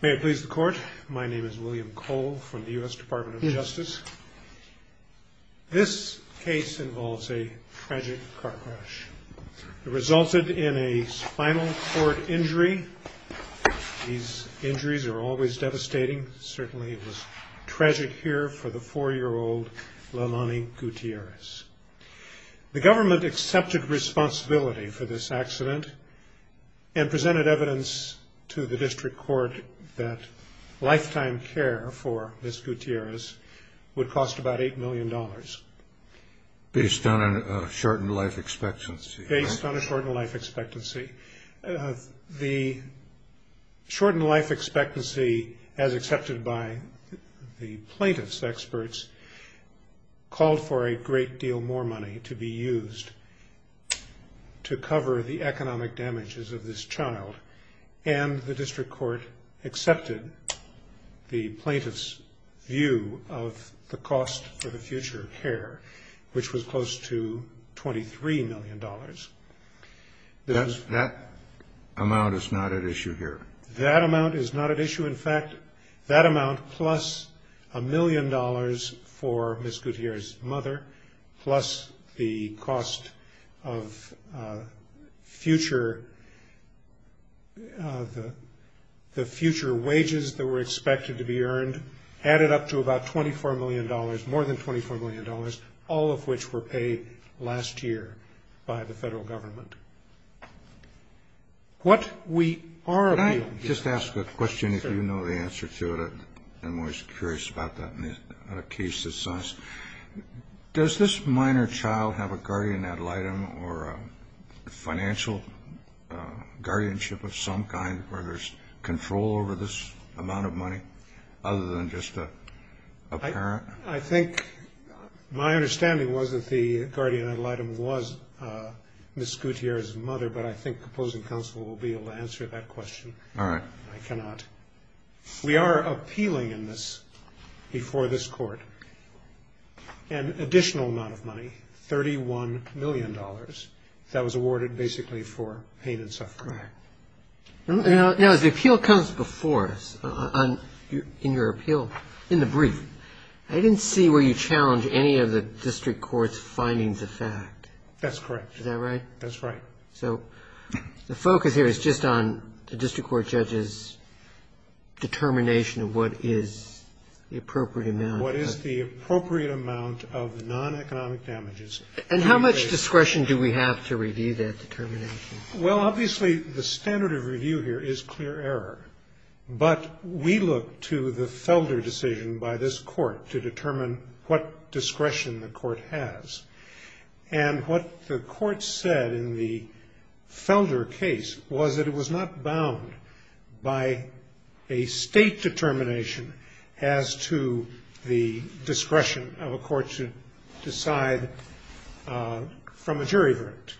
May it please the Court, my name is William Cole from the U.S. Department of Justice. This case involves a tragic car crash. It resulted in a spinal cord injury. These injuries are always devastating. Certainly it was tragic here for the four-year-old Leilani Gutierrez. The government accepted responsibility for this accident and presented evidence to the district court that lifetime care for Ms. Gutierrez would cost about $8 million. Based on a shortened life expectancy. Based on a shortened life expectancy. The shortened life expectancy, as accepted by the plaintiff's experts, called for a great deal more money to be used to cover the economic damages of this child. And the district court accepted the plaintiff's view of the cost for the future care, which was close to $23 million. That amount is not at issue here. That amount is not at issue. In fact, that amount, plus a million dollars for Ms. Gutierrez's mother, plus the cost of future wages that were expected to be earned, added up to about $24 million, more than $24 million, all of which were paid last year by the federal government. What we are— Can I just ask a question if you know the answer to it? I'm always curious about that in a case this size. Does this minor child have a guardian ad litem or a financial guardianship of some kind where there's control over this amount of money other than just a parent? I think my understanding was that the guardian ad litem was Ms. Gutierrez's mother, but I think opposing counsel will be able to answer that question. All right. I cannot. We are appealing in this before this court an additional amount of money, $31 million, that was awarded basically for pain and suffering. All right. Now, as the appeal comes before us, in your appeal, in the brief, I didn't see where you challenged any of the district court's findings of fact. That's correct. Is that right? That's right. So the focus here is just on the district court judge's determination of what is the appropriate amount. What is the appropriate amount of non-economic damages. And how much discretion do we have to review that determination? Well, obviously, the standard of review here is clear error, but we look to the Felder decision by this court to determine what discretion the court has. And what the court said in the Felder case was that it was not bound by a state determination as to the discretion of a court to decide from a jury verdict.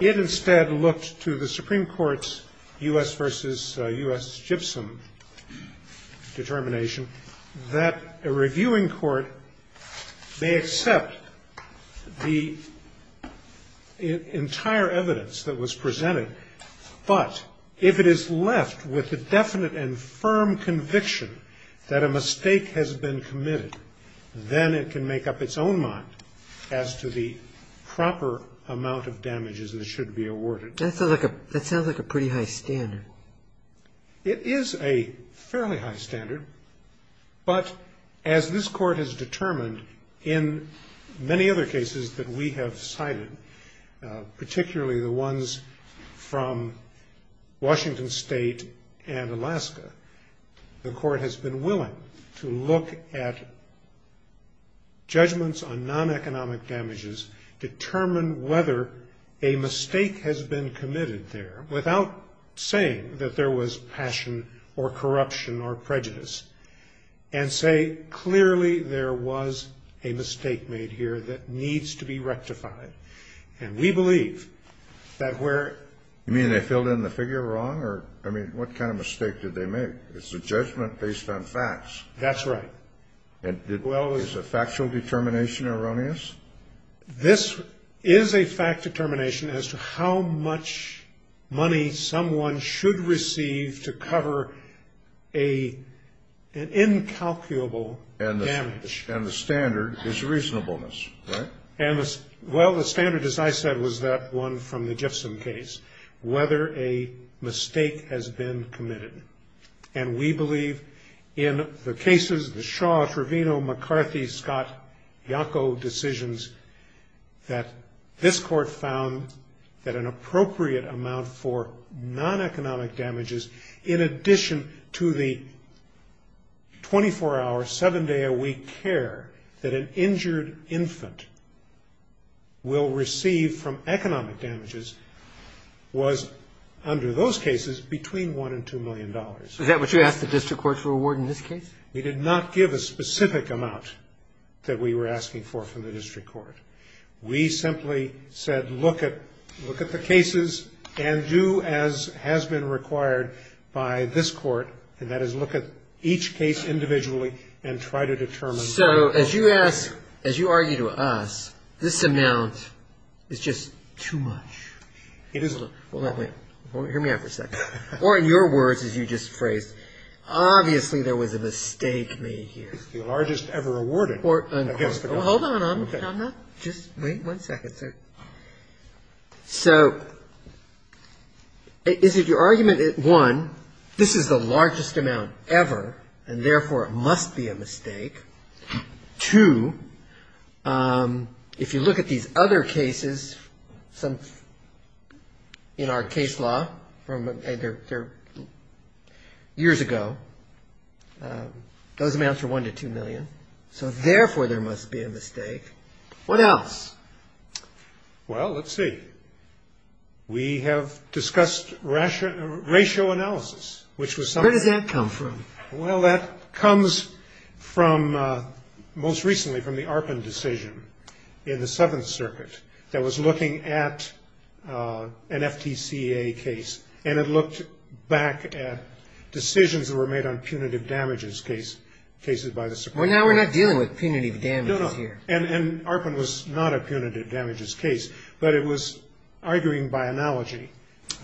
It instead looked to the Supreme Court's U.S. versus U.S. gypsum determination that a reviewing court may accept the entire evidence that was presented, but if it is left with a definite and firm conviction that a mistake has been committed, then it can make up its own mind as to the proper amount of damages that should be awarded. That sounds like a pretty high standard. It is a fairly high standard, but as this court has determined in many other cases that we have cited, particularly the ones from Washington State and Alaska, the court has been willing to look at judgments on non-economic damages, determine whether a mistake has been committed there, without saying that there was passion or corruption or prejudice, and say clearly there was a mistake made here that needs to be rectified. And we believe that where... You mean they filled in the figure wrong? I mean, what kind of mistake did they make? It's a judgment based on facts. That's right. Is a factual determination erroneous? This is a fact determination as to how much money someone should receive to cover an incalculable damage. And the standard is reasonableness, right? Well, the standard, as I said, was that one from the gypsum case. Whether a mistake has been committed. And we believe in the cases, the Shaw, Trevino, McCarthy, Scott, Yonko decisions, that this court found that an appropriate amount for non-economic damages, in addition to the 24-hour, seven-day-a-week care that an injured infant will receive from economic damages, was, under those cases, between one and two million dollars. Is that what you asked the district court for a reward in this case? We did not give a specific amount that we were asking for from the district court. We simply said look at the cases and do as has been required by this court, and that is look at each case individually and try to determine... So as you ask, as you argue to us, this amount is just too much. Well, let me, hear me out for a second. Or in your words, as you just phrased, obviously there was a mistake made here. It's the largest ever awarded against the government. Hold on. Just wait one second, sir. So is it your argument that, one, this is the largest amount ever, and therefore it must be a mistake? Two, if you look at these other cases in our case law from years ago, those amounts are one to two million, so therefore there must be a mistake. What else? Well, let's see. We have discussed ratio analysis, which was something... Where does that come from? Well, that comes from most recently from the Arpin decision in the Seventh Circuit that was looking at an FTCA case, and it looked back at decisions that were made on punitive damages cases by the Supreme Court. Well, now we're not dealing with punitive damages here. And Arpin was not a punitive damages case, but it was arguing by analogy.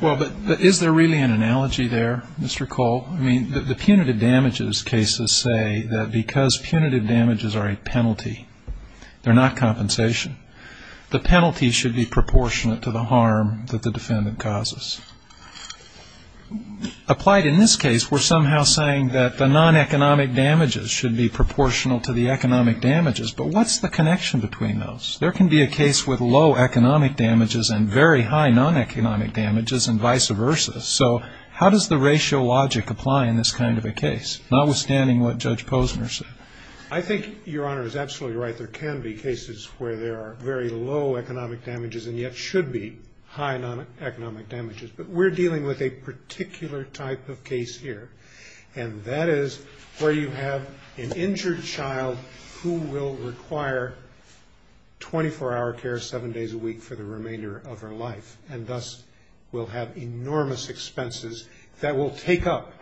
Well, but is there really an analogy there, Mr. Cole? I mean, the punitive damages cases say that because punitive damages are a penalty, they're not compensation, the penalty should be proportionate to the harm that the defendant causes. Applied in this case, we're somehow saying that the non-economic damages should be proportional to the economic damages, but what's the connection between those? There can be a case with low economic damages and very high non-economic damages and vice versa. So how does the ratio logic apply in this kind of a case, notwithstanding what Judge Posner said? I think Your Honor is absolutely right. There can be cases where there are very low economic damages and yet should be high non-economic damages. But we're dealing with a particular type of case here, and that is where you have an injured child who will require 24-hour care, seven days a week for the remainder of her life, and thus will have enormous expenses that will take up,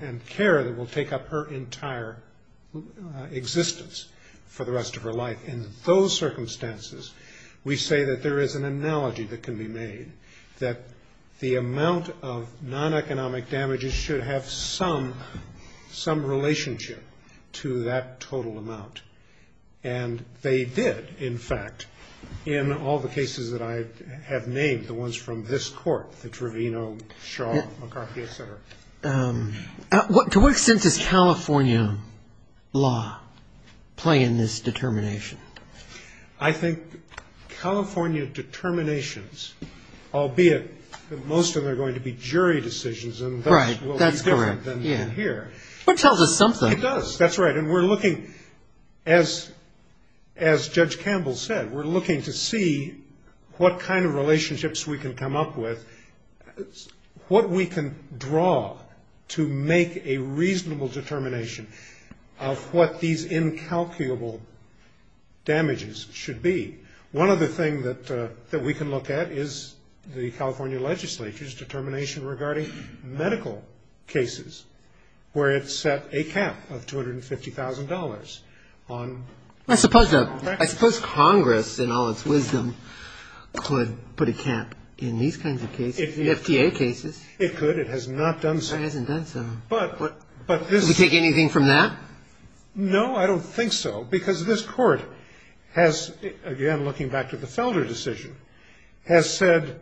and care that will take up her entire existence for the rest of her life. In those circumstances, we say that there is an analogy that can be made, that the amount of non-economic damages should have some relationship to that total amount. And they did, in fact, in all the cases that I have named, the ones from this court, the Trevino, Shaw, McCarthy, et cetera. To what extent does California law play in this determination? I think California determinations, albeit that most of them are going to be jury decisions, and thus will be different than here. But it tells us something. It does. That's right. And we're looking, as Judge Campbell said, we're looking to see what kind of relationships we can come up with, what we can draw to make a reasonable determination of what these incalculable damages should be. One other thing that we can look at is the California legislature's determination regarding medical cases, where it set a cap of $250,000 on medical practice. I suppose Congress, in all its wisdom, could put a cap in these kinds of cases, in FDA cases. It could. It has not done so. It hasn't done so. But this... Does it take anything from that? No, I don't think so, because this court has, again, looking back to the Felder decision, has said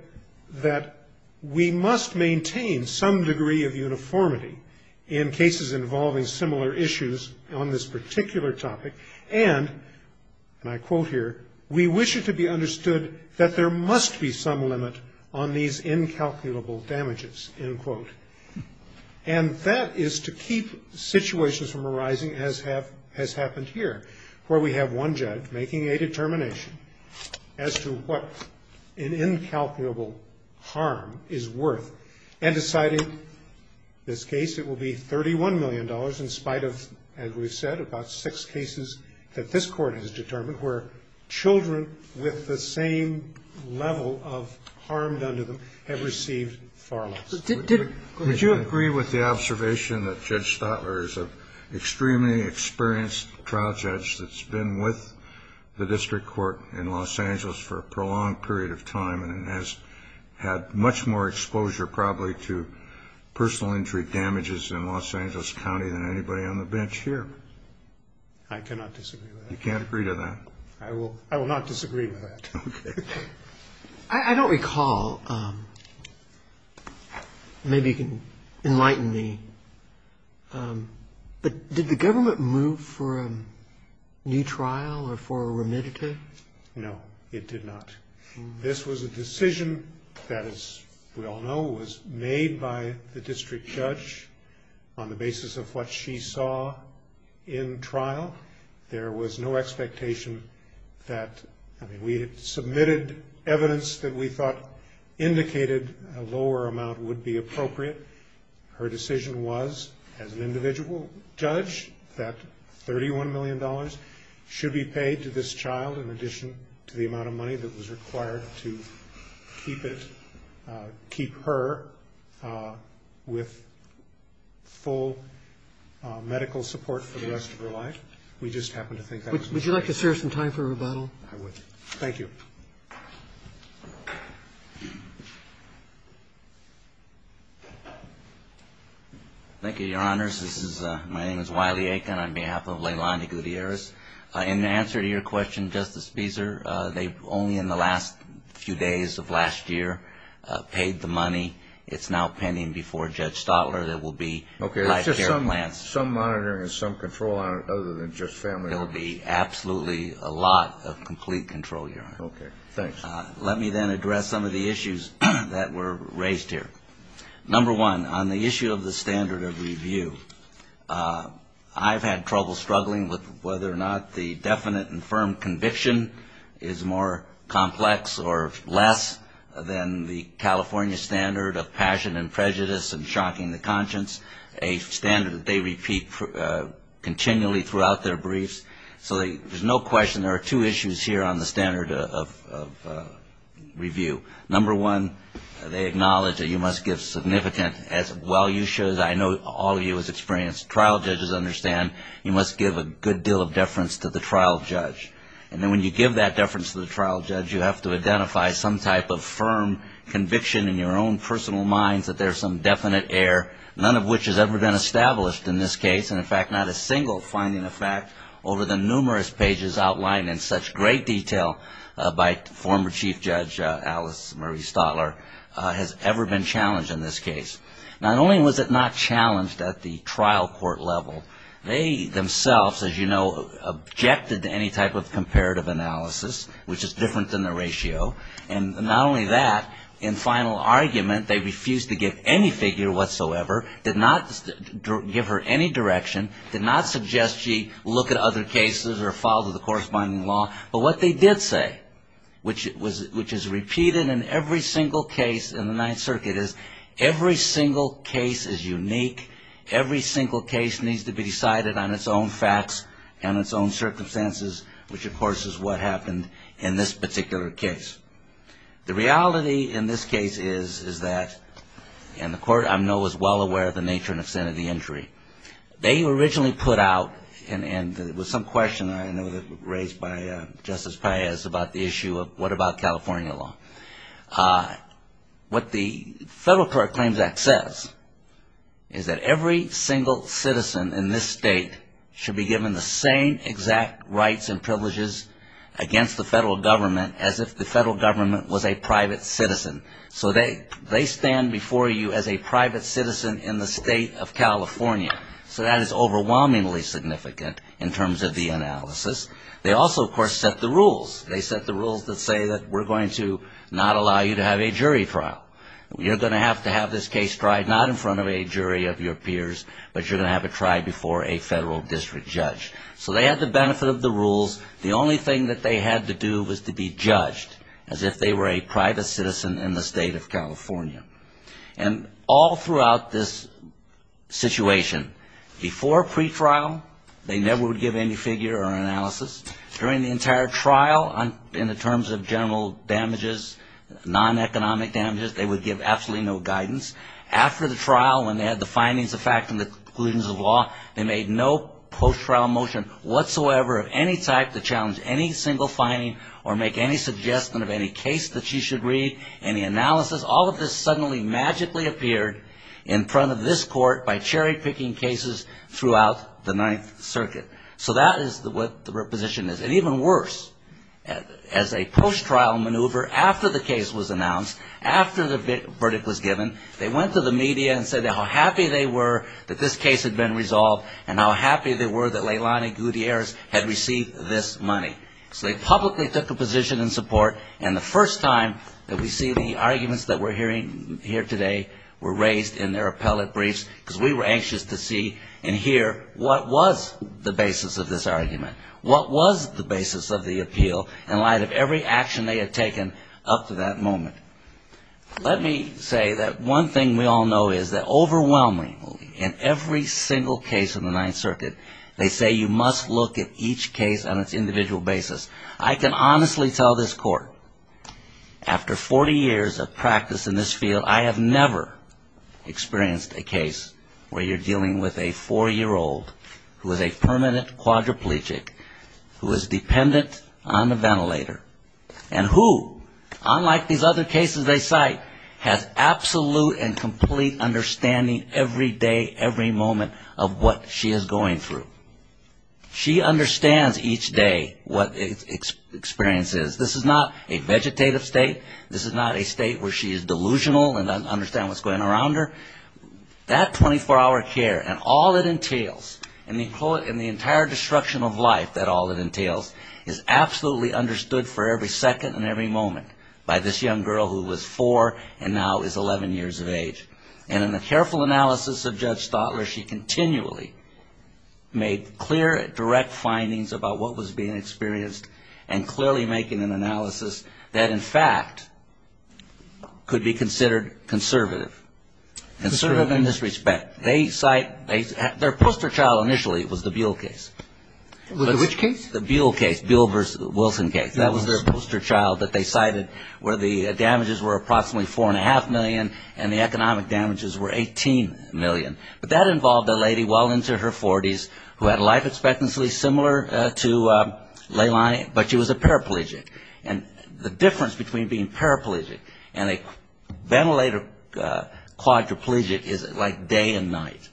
that we must maintain some degree of uniformity in cases involving similar issues on this particular topic, and, and I quote here, we wish it to be understood that there must be some limit on these incalculable damages, end quote. And that is to keep situations from arising as has happened here, where we have one judge making a determination as to what an incalculable harm is worth, and deciding this case, it will be $31 million in spite of, as we've said, about six cases that this court has determined, where children with the same level of harm done to them have received far less. Did... Could you agree with the observation that Judge Stotler is an extremely experienced trial judge that's been with the district court in Los Angeles for a prolonged period of time and has had much more exposure probably to personal injury damages in Los Angeles County than anybody on the bench here? I cannot disagree with that. You can't agree to that? I will, I will not disagree with that. Okay. I don't recall, maybe you can enlighten me, but did the government move for a new trial or for a remediative? No, it did not. This was a decision that, as we all know, was made by the district judge on the basis of what she saw in trial. There was no expectation that... I mean, we had submitted evidence that we thought indicated a lower amount would be appropriate. Her decision was, as an individual judge, that $31 million should be paid to this child in addition to the amount of money that was required to keep it, keep her with full medical support for the rest of her life. We just happened to think that was necessary. Would you like to serve some time for rebuttal? I would. Thank you. Thank you, Your Honors. This is, my name is Wiley Aiken on behalf of Leilani Gutierrez. In answer to your question, Justice Beezer, they only in the last few days of last year paid the money. It's now pending before Judge Stotler. There will be life care plans. Okay, it's just some monitoring and some control on it other than just family. There will be absolutely a lot of complete control, Your Honor. Okay, thanks. Let me then address some of the issues that were raised here. Number one, on the issue of the standard of review, I've had trouble struggling with whether or not the definite and firm conviction is more complex or less than the California standard of passion and prejudice and shocking the conscience, a standard that they repeat continually throughout their briefs. So there's no question there are two issues here on the standard of review. Number one, they acknowledge that you must give significant, as well you should, I know all of you as experienced trial judges understand, you must give a good deal of deference to the trial judge. And then when you give that deference to the trial judge, you have to identify some type of firm conviction in your own personal minds that there's some definite error, none of which has ever been established in this case, and in fact not a single finding of fact over the numerous pages outlined in such great detail by former Chief Judge Alice Marie Stotler has ever been challenged in this case. Not only was it not challenged at the trial court level, they themselves, as you know, objected to any type of comparative analysis, which is different than the ratio. And not only that, in final argument, they refused to give any figure whatsoever, did not give her any direction, did not suggest she look at other cases or follow the corresponding law, but what they did say, which is repeated in every single case in the Ninth Circuit, is every single case is unique, every single case needs to be decided on its own facts and its own circumstances, which of course is what happened in this particular case. The reality in this case is that, and the court I know is well aware of the nature and extent of the injury, they originally put out, and it was some question I know that was raised by Justice Paez about the issue of what about California law. What the Federal Court Claims Act says is that every single citizen in this state should be given the same exact rights and privileges against the federal government as if the federal government was a private citizen. So they stand before you as a private citizen in the state of California. So that is overwhelmingly significant in terms of the analysis. They also, of course, set the rules. They set the rules that say that we're going to not allow you to have a jury trial. You're going to have to have this case tried not in front of a jury of your peers, but you're going to have it tried before a federal district judge. So they had the benefit of the rules. The only thing that they had to do was to be judged as if they were a private citizen in the state of California. And all throughout this situation, before pretrial, they never would give any figure or analysis. During the entire trial, in terms of general damages, non-economic damages, they would give absolutely no guidance. After the trial, when they had the findings of fact and the conclusions of law, they made no post-trial motion whatsoever of any type to challenge any single finding or make any suggestion of any case that you should read, any analysis. All of this suddenly magically appeared in front of this court by cherry-picking cases throughout the Ninth Circuit. So that is what the reposition is. And even worse, as a post-trial maneuver, after the case was announced, after the verdict was given, they went to the media and said how happy they were that this case had been resolved and how happy they were that Leilani Gutierrez had received this money. So they publicly took a position in support. And the first time that we see the arguments that we're hearing here today were raised in their appellate briefs because we were anxious to see and hear what was the basis of this argument. What was the basis of the appeal in light of every action they had taken up to that moment? Let me say that one thing we all know is that overwhelmingly in every single case in the Ninth Circuit, they say you must look at each case on its individual basis. I can honestly tell this court, after 40 years of practice in this field, I have never experienced a case where you're dealing with a four-year-old who is a permanent quadriplegic, who is dependent on a ventilator, and who, unlike these other cases they cite, has absolute and complete understanding every day, every moment of what she is going through. She understands each day what the experience is. This is not a vegetative state. This is not a state where she is delusional and doesn't understand what's going on around her. That 24-hour care and all it entails, and the entire destruction of life, that all it entails, is absolutely understood for every second and every moment by this young girl who was four and now is 11 years of age. And in the careful analysis of Judge Stotler, she continually made clear, direct findings about what was being experienced and clearly making an analysis that, in fact, could be considered conservative. Conservative in this respect. Their poster child initially was the Buell case. Which case? The Buell case, Buell v. Wilson case. That was their poster child that they cited where the damages were approximately 4.5 million and the economic damages were 18 million. But that involved a lady well into her 40s who had life expectancy similar to Leilani, but she was a paraplegic. And the difference between being paraplegic and a ventilator quadriplegic is like day and night.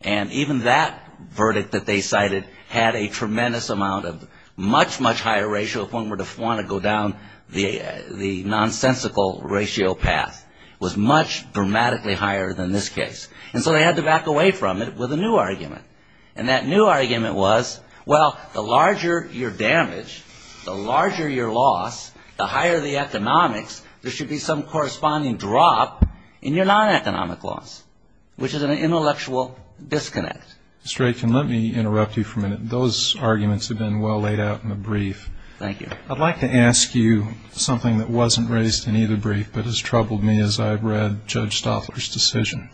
And even that verdict that they cited had a tremendous amount of much, much higher ratio if one were to want to go down the nonsensical ratio path. It was much dramatically higher than this case. And so they had to back away from it with a new argument. And that new argument was, well, the larger your damage, the larger your loss, the higher the economics, there should be some corresponding drop in your non-economic loss. Which is an intellectual disconnect. Mr. Aitken, let me interrupt you for a minute. Those arguments have been well laid out in the brief. Thank you. I'd like to ask you something that wasn't raised in either brief but has troubled me as I've read Judge Stotler's decision.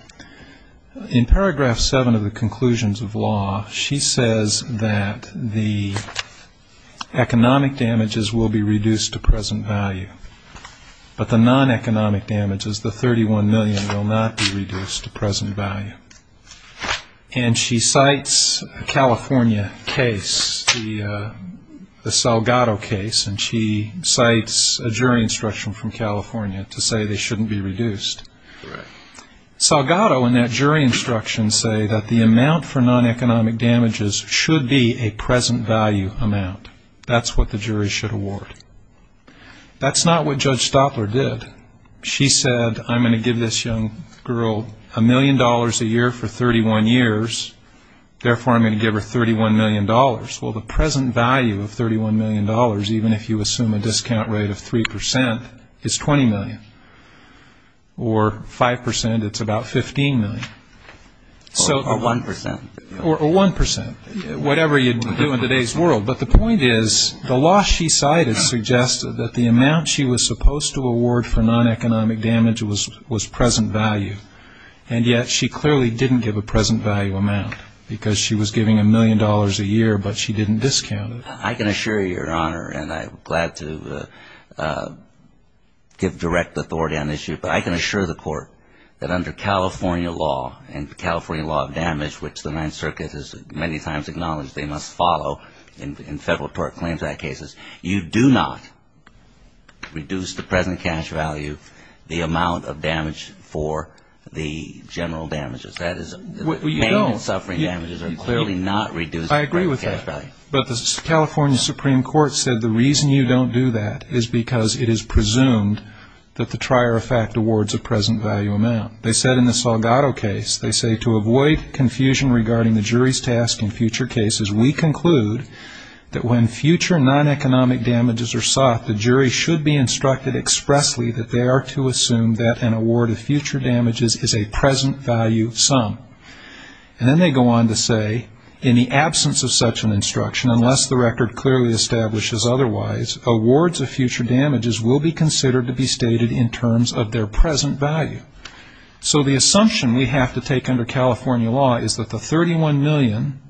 In paragraph seven of the conclusions of law, she says that the economic damages will be reduced to present value. But the non-economic damages, the 31 million, will not be reduced to present value. And she cites a California case, the Salgado case, and she cites a jury instruction from California to say they shouldn't be reduced to present value. Salgado and that jury instruction say that the amount for non-economic damages should be a present value amount. That's what the jury should award. That's not what Judge Stotler did. She said, I'm going to give this young girl a million dollars a year for 31 years, therefore I'm going to give her 31 million dollars. Well, the present value of 31 million dollars, even if you assume a discount rate of 3%, is 20 million. Or 5%, it's about 15 million. Or 1%. Whatever you do in today's world. But the point is, the law she cited suggested that the amount she was supposed to award for non-economic damage was present value. And yet she clearly didn't give a present value amount, because she was giving a million dollars a year, but she didn't discount it. I can assure you, Your Honor, and I'm glad to give direct authority on this issue, but I can assure the Court that under California law, and California law of damage, which the Ninth Circuit has many times acknowledged they must follow in federal court claims act cases, you do not reduce the present cash value, the amount of damage for the general damages. That is, pain and suffering damages are clearly not reduced by cash value. But the California Supreme Court said the reason you don't do that is because it is presumed that the trier of fact awards a present value amount. They said in the Salgado case, they say to avoid confusion regarding the jury's task in future cases, we conclude that when future non-economic damages are sought, the jury should be instructed expressly that they are to assume that an award of future damages is a present value sum. And then they go on to say, in the absence of such an instruction, unless the record clearly establishes otherwise, awards of future damages will be considered to be stated in terms of their present value. So the assumption we have to take under California law is that the 31 million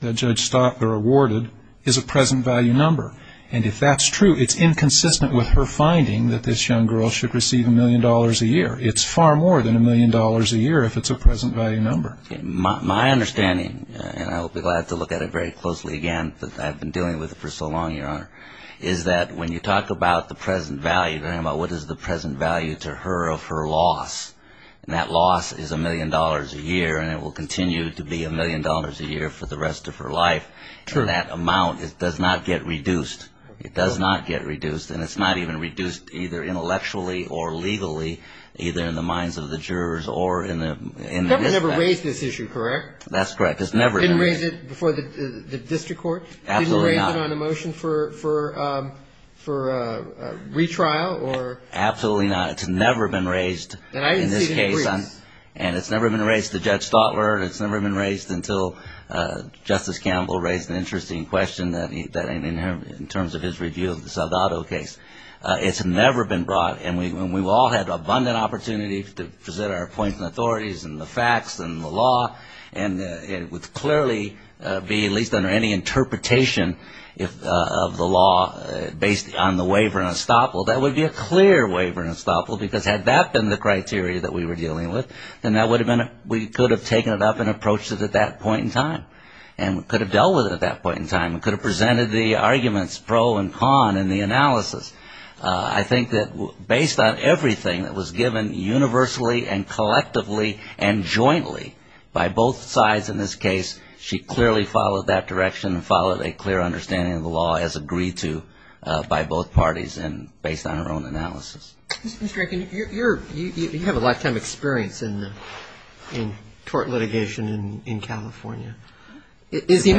that Judge Stotler awarded is a present value number. And if that's true, it's inconsistent with her finding that this young girl should receive a million dollars a year. It's far more than a million dollars a year if it's a present value number. My understanding, and I'll be glad to look at it very closely again, but I've been dealing with it for so long, Your Honor, is that when you talk about the present value, what is the present value to her of her loss, and that loss is a million dollars a year, and it will continue to be a million dollars a year for the rest of her life. And that amount, it does not get reduced. It does not get reduced, and it's not even reduced either intellectually or legally, either in the minds of the jurors or in the district. Never raised this issue, correct? That's correct. Didn't raise it before the district court? Absolutely not. Didn't raise it on a motion for retrial? Absolutely not. It's never been raised in this case, and it's never been raised to Judge Stotler, and it's never been raised until Justice Campbell raised an interesting question in terms of his review of the Saldado case. It's never been brought, and we've all had abundant opportunities to present our points and authorities and the facts and the law, and it would clearly be, at least under any interpretation of the law, based on the waiver and estoppel. That would be a clear waiver and estoppel, because had that been the criteria that we were dealing with, then we could have taken it up and could have dealt with it at that point in time and could have presented the arguments pro and con in the analysis. I think that based on everything that was given universally and collectively and jointly by both sides in this case, she clearly followed that direction and followed a clear understanding of the law as agreed to by both parties and based on her own analysis. Mr. Rankin, you have a lifetime experience in tort litigation in California. Is the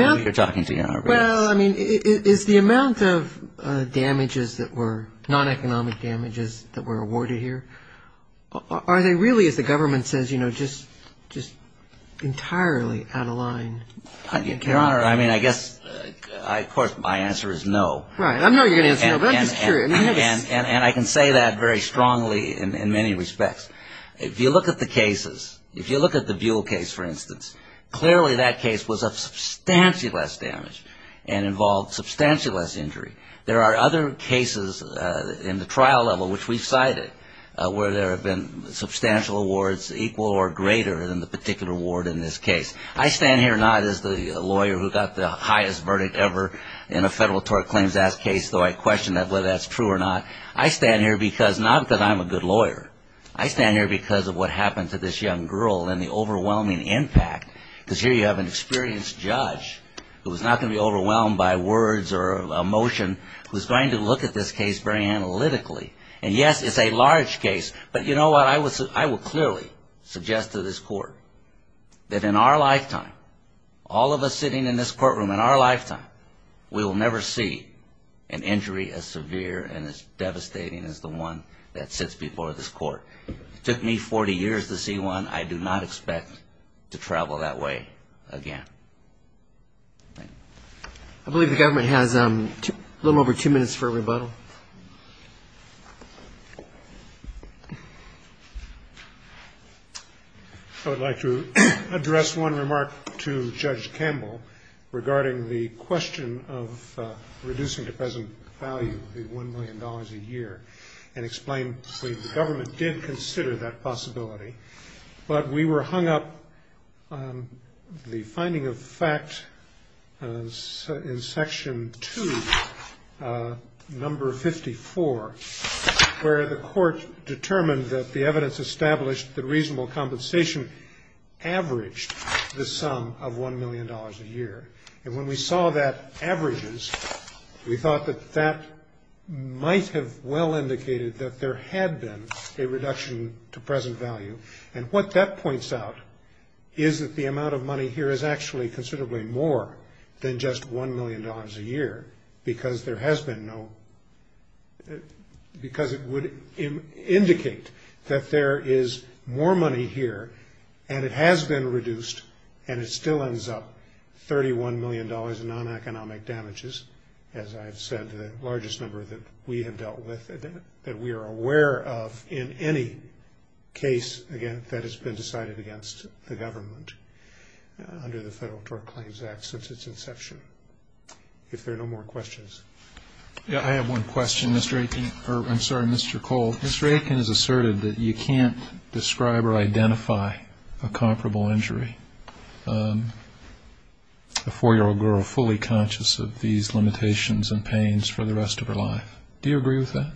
amount of damages that were, non-economic damages that were awarded here, are they really, as the government says, just entirely out of line? Your Honor, I mean, I guess, of course, my answer is no. And I can say that very strongly in many respects. If you look at the cases, if you look at the Buell case, for instance, clearly that case was of substantially less damage and involved substantially less injury. There are other cases in the trial level, which we've cited, where there have been substantial awards equal or greater than the particular award in this case. I stand here not as the lawyer who got the highest verdict ever in a federal tort claims-asked case, though I question whether that's true or not. I stand here because, not because I'm a good lawyer, I stand here because of what happened to this young girl and the overwhelming impact. Because here you have an experienced judge who is not going to be overwhelmed by words or emotion, who is going to look at this case very analytically. And, yes, it's a large case, but you know what, I will clearly suggest to this Court that in our lifetime, all of us sitting in this courtroom in our lifetime, we will not be as devastating as the one that sits before this Court. It took me 40 years to see one. I do not expect to travel that way again. Thank you. I believe the government has a little over two minutes for a rebuttal. I would like to address one remark to Judge Campbell regarding the question of reducing the present value of the $1 million a year and explain that the government did consider that possibility. But we were hung up on the finding of fact in Section 2, Number 54, where the Court determined that the evidence established that reasonable compensation averaged the sum of $1 million a year. And when we saw that averages, we thought that that might have well indicated that there had been a reduction to present value. And what that points out is that the amount of money here is actually considerably more than just $1 million a year, because it would indicate that there is more money here, and it has been reduced, and it still ends up $31 million in non-economic damages, as I have said, the largest number that we have dealt with, that we are aware of in any case that has been decided against the government under the Federal Tort Claims Act since its inception. If there are no more questions. I have one question, Mr. Aitken. I'm sorry, Mr. Cole. Mr. Aitken has asserted that you can't describe or identify a comparable injury, a 4-year-old girl fully conscious of these limitations and pains for the rest of her life. Do you agree with that?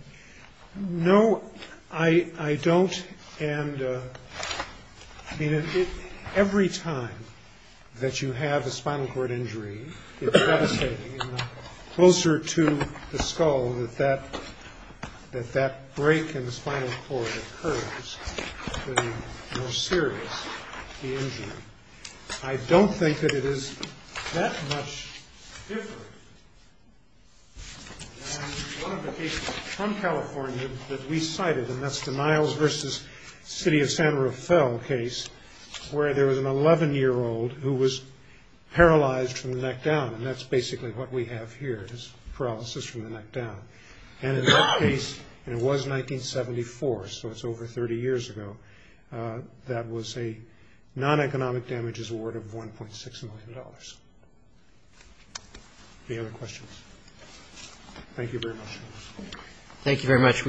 No, I don't, and every time that you have a spinal cord injury, it's devastating, and the closer to the skull that that break in the spinal cord occurs, I don't think that it is that much different than one of the cases from California that we cited, and that's the Niles v. City of San Rafael case, where there was an 11-year-old who was paralyzed from the neck down, and that's basically what we have here, is paralysis from the neck down. And in that case, and it was 1974, so it's over 30 years ago, that was a non-economic injury. And the point damage is a reward of $1.6 million. Any other questions? Thank you very much.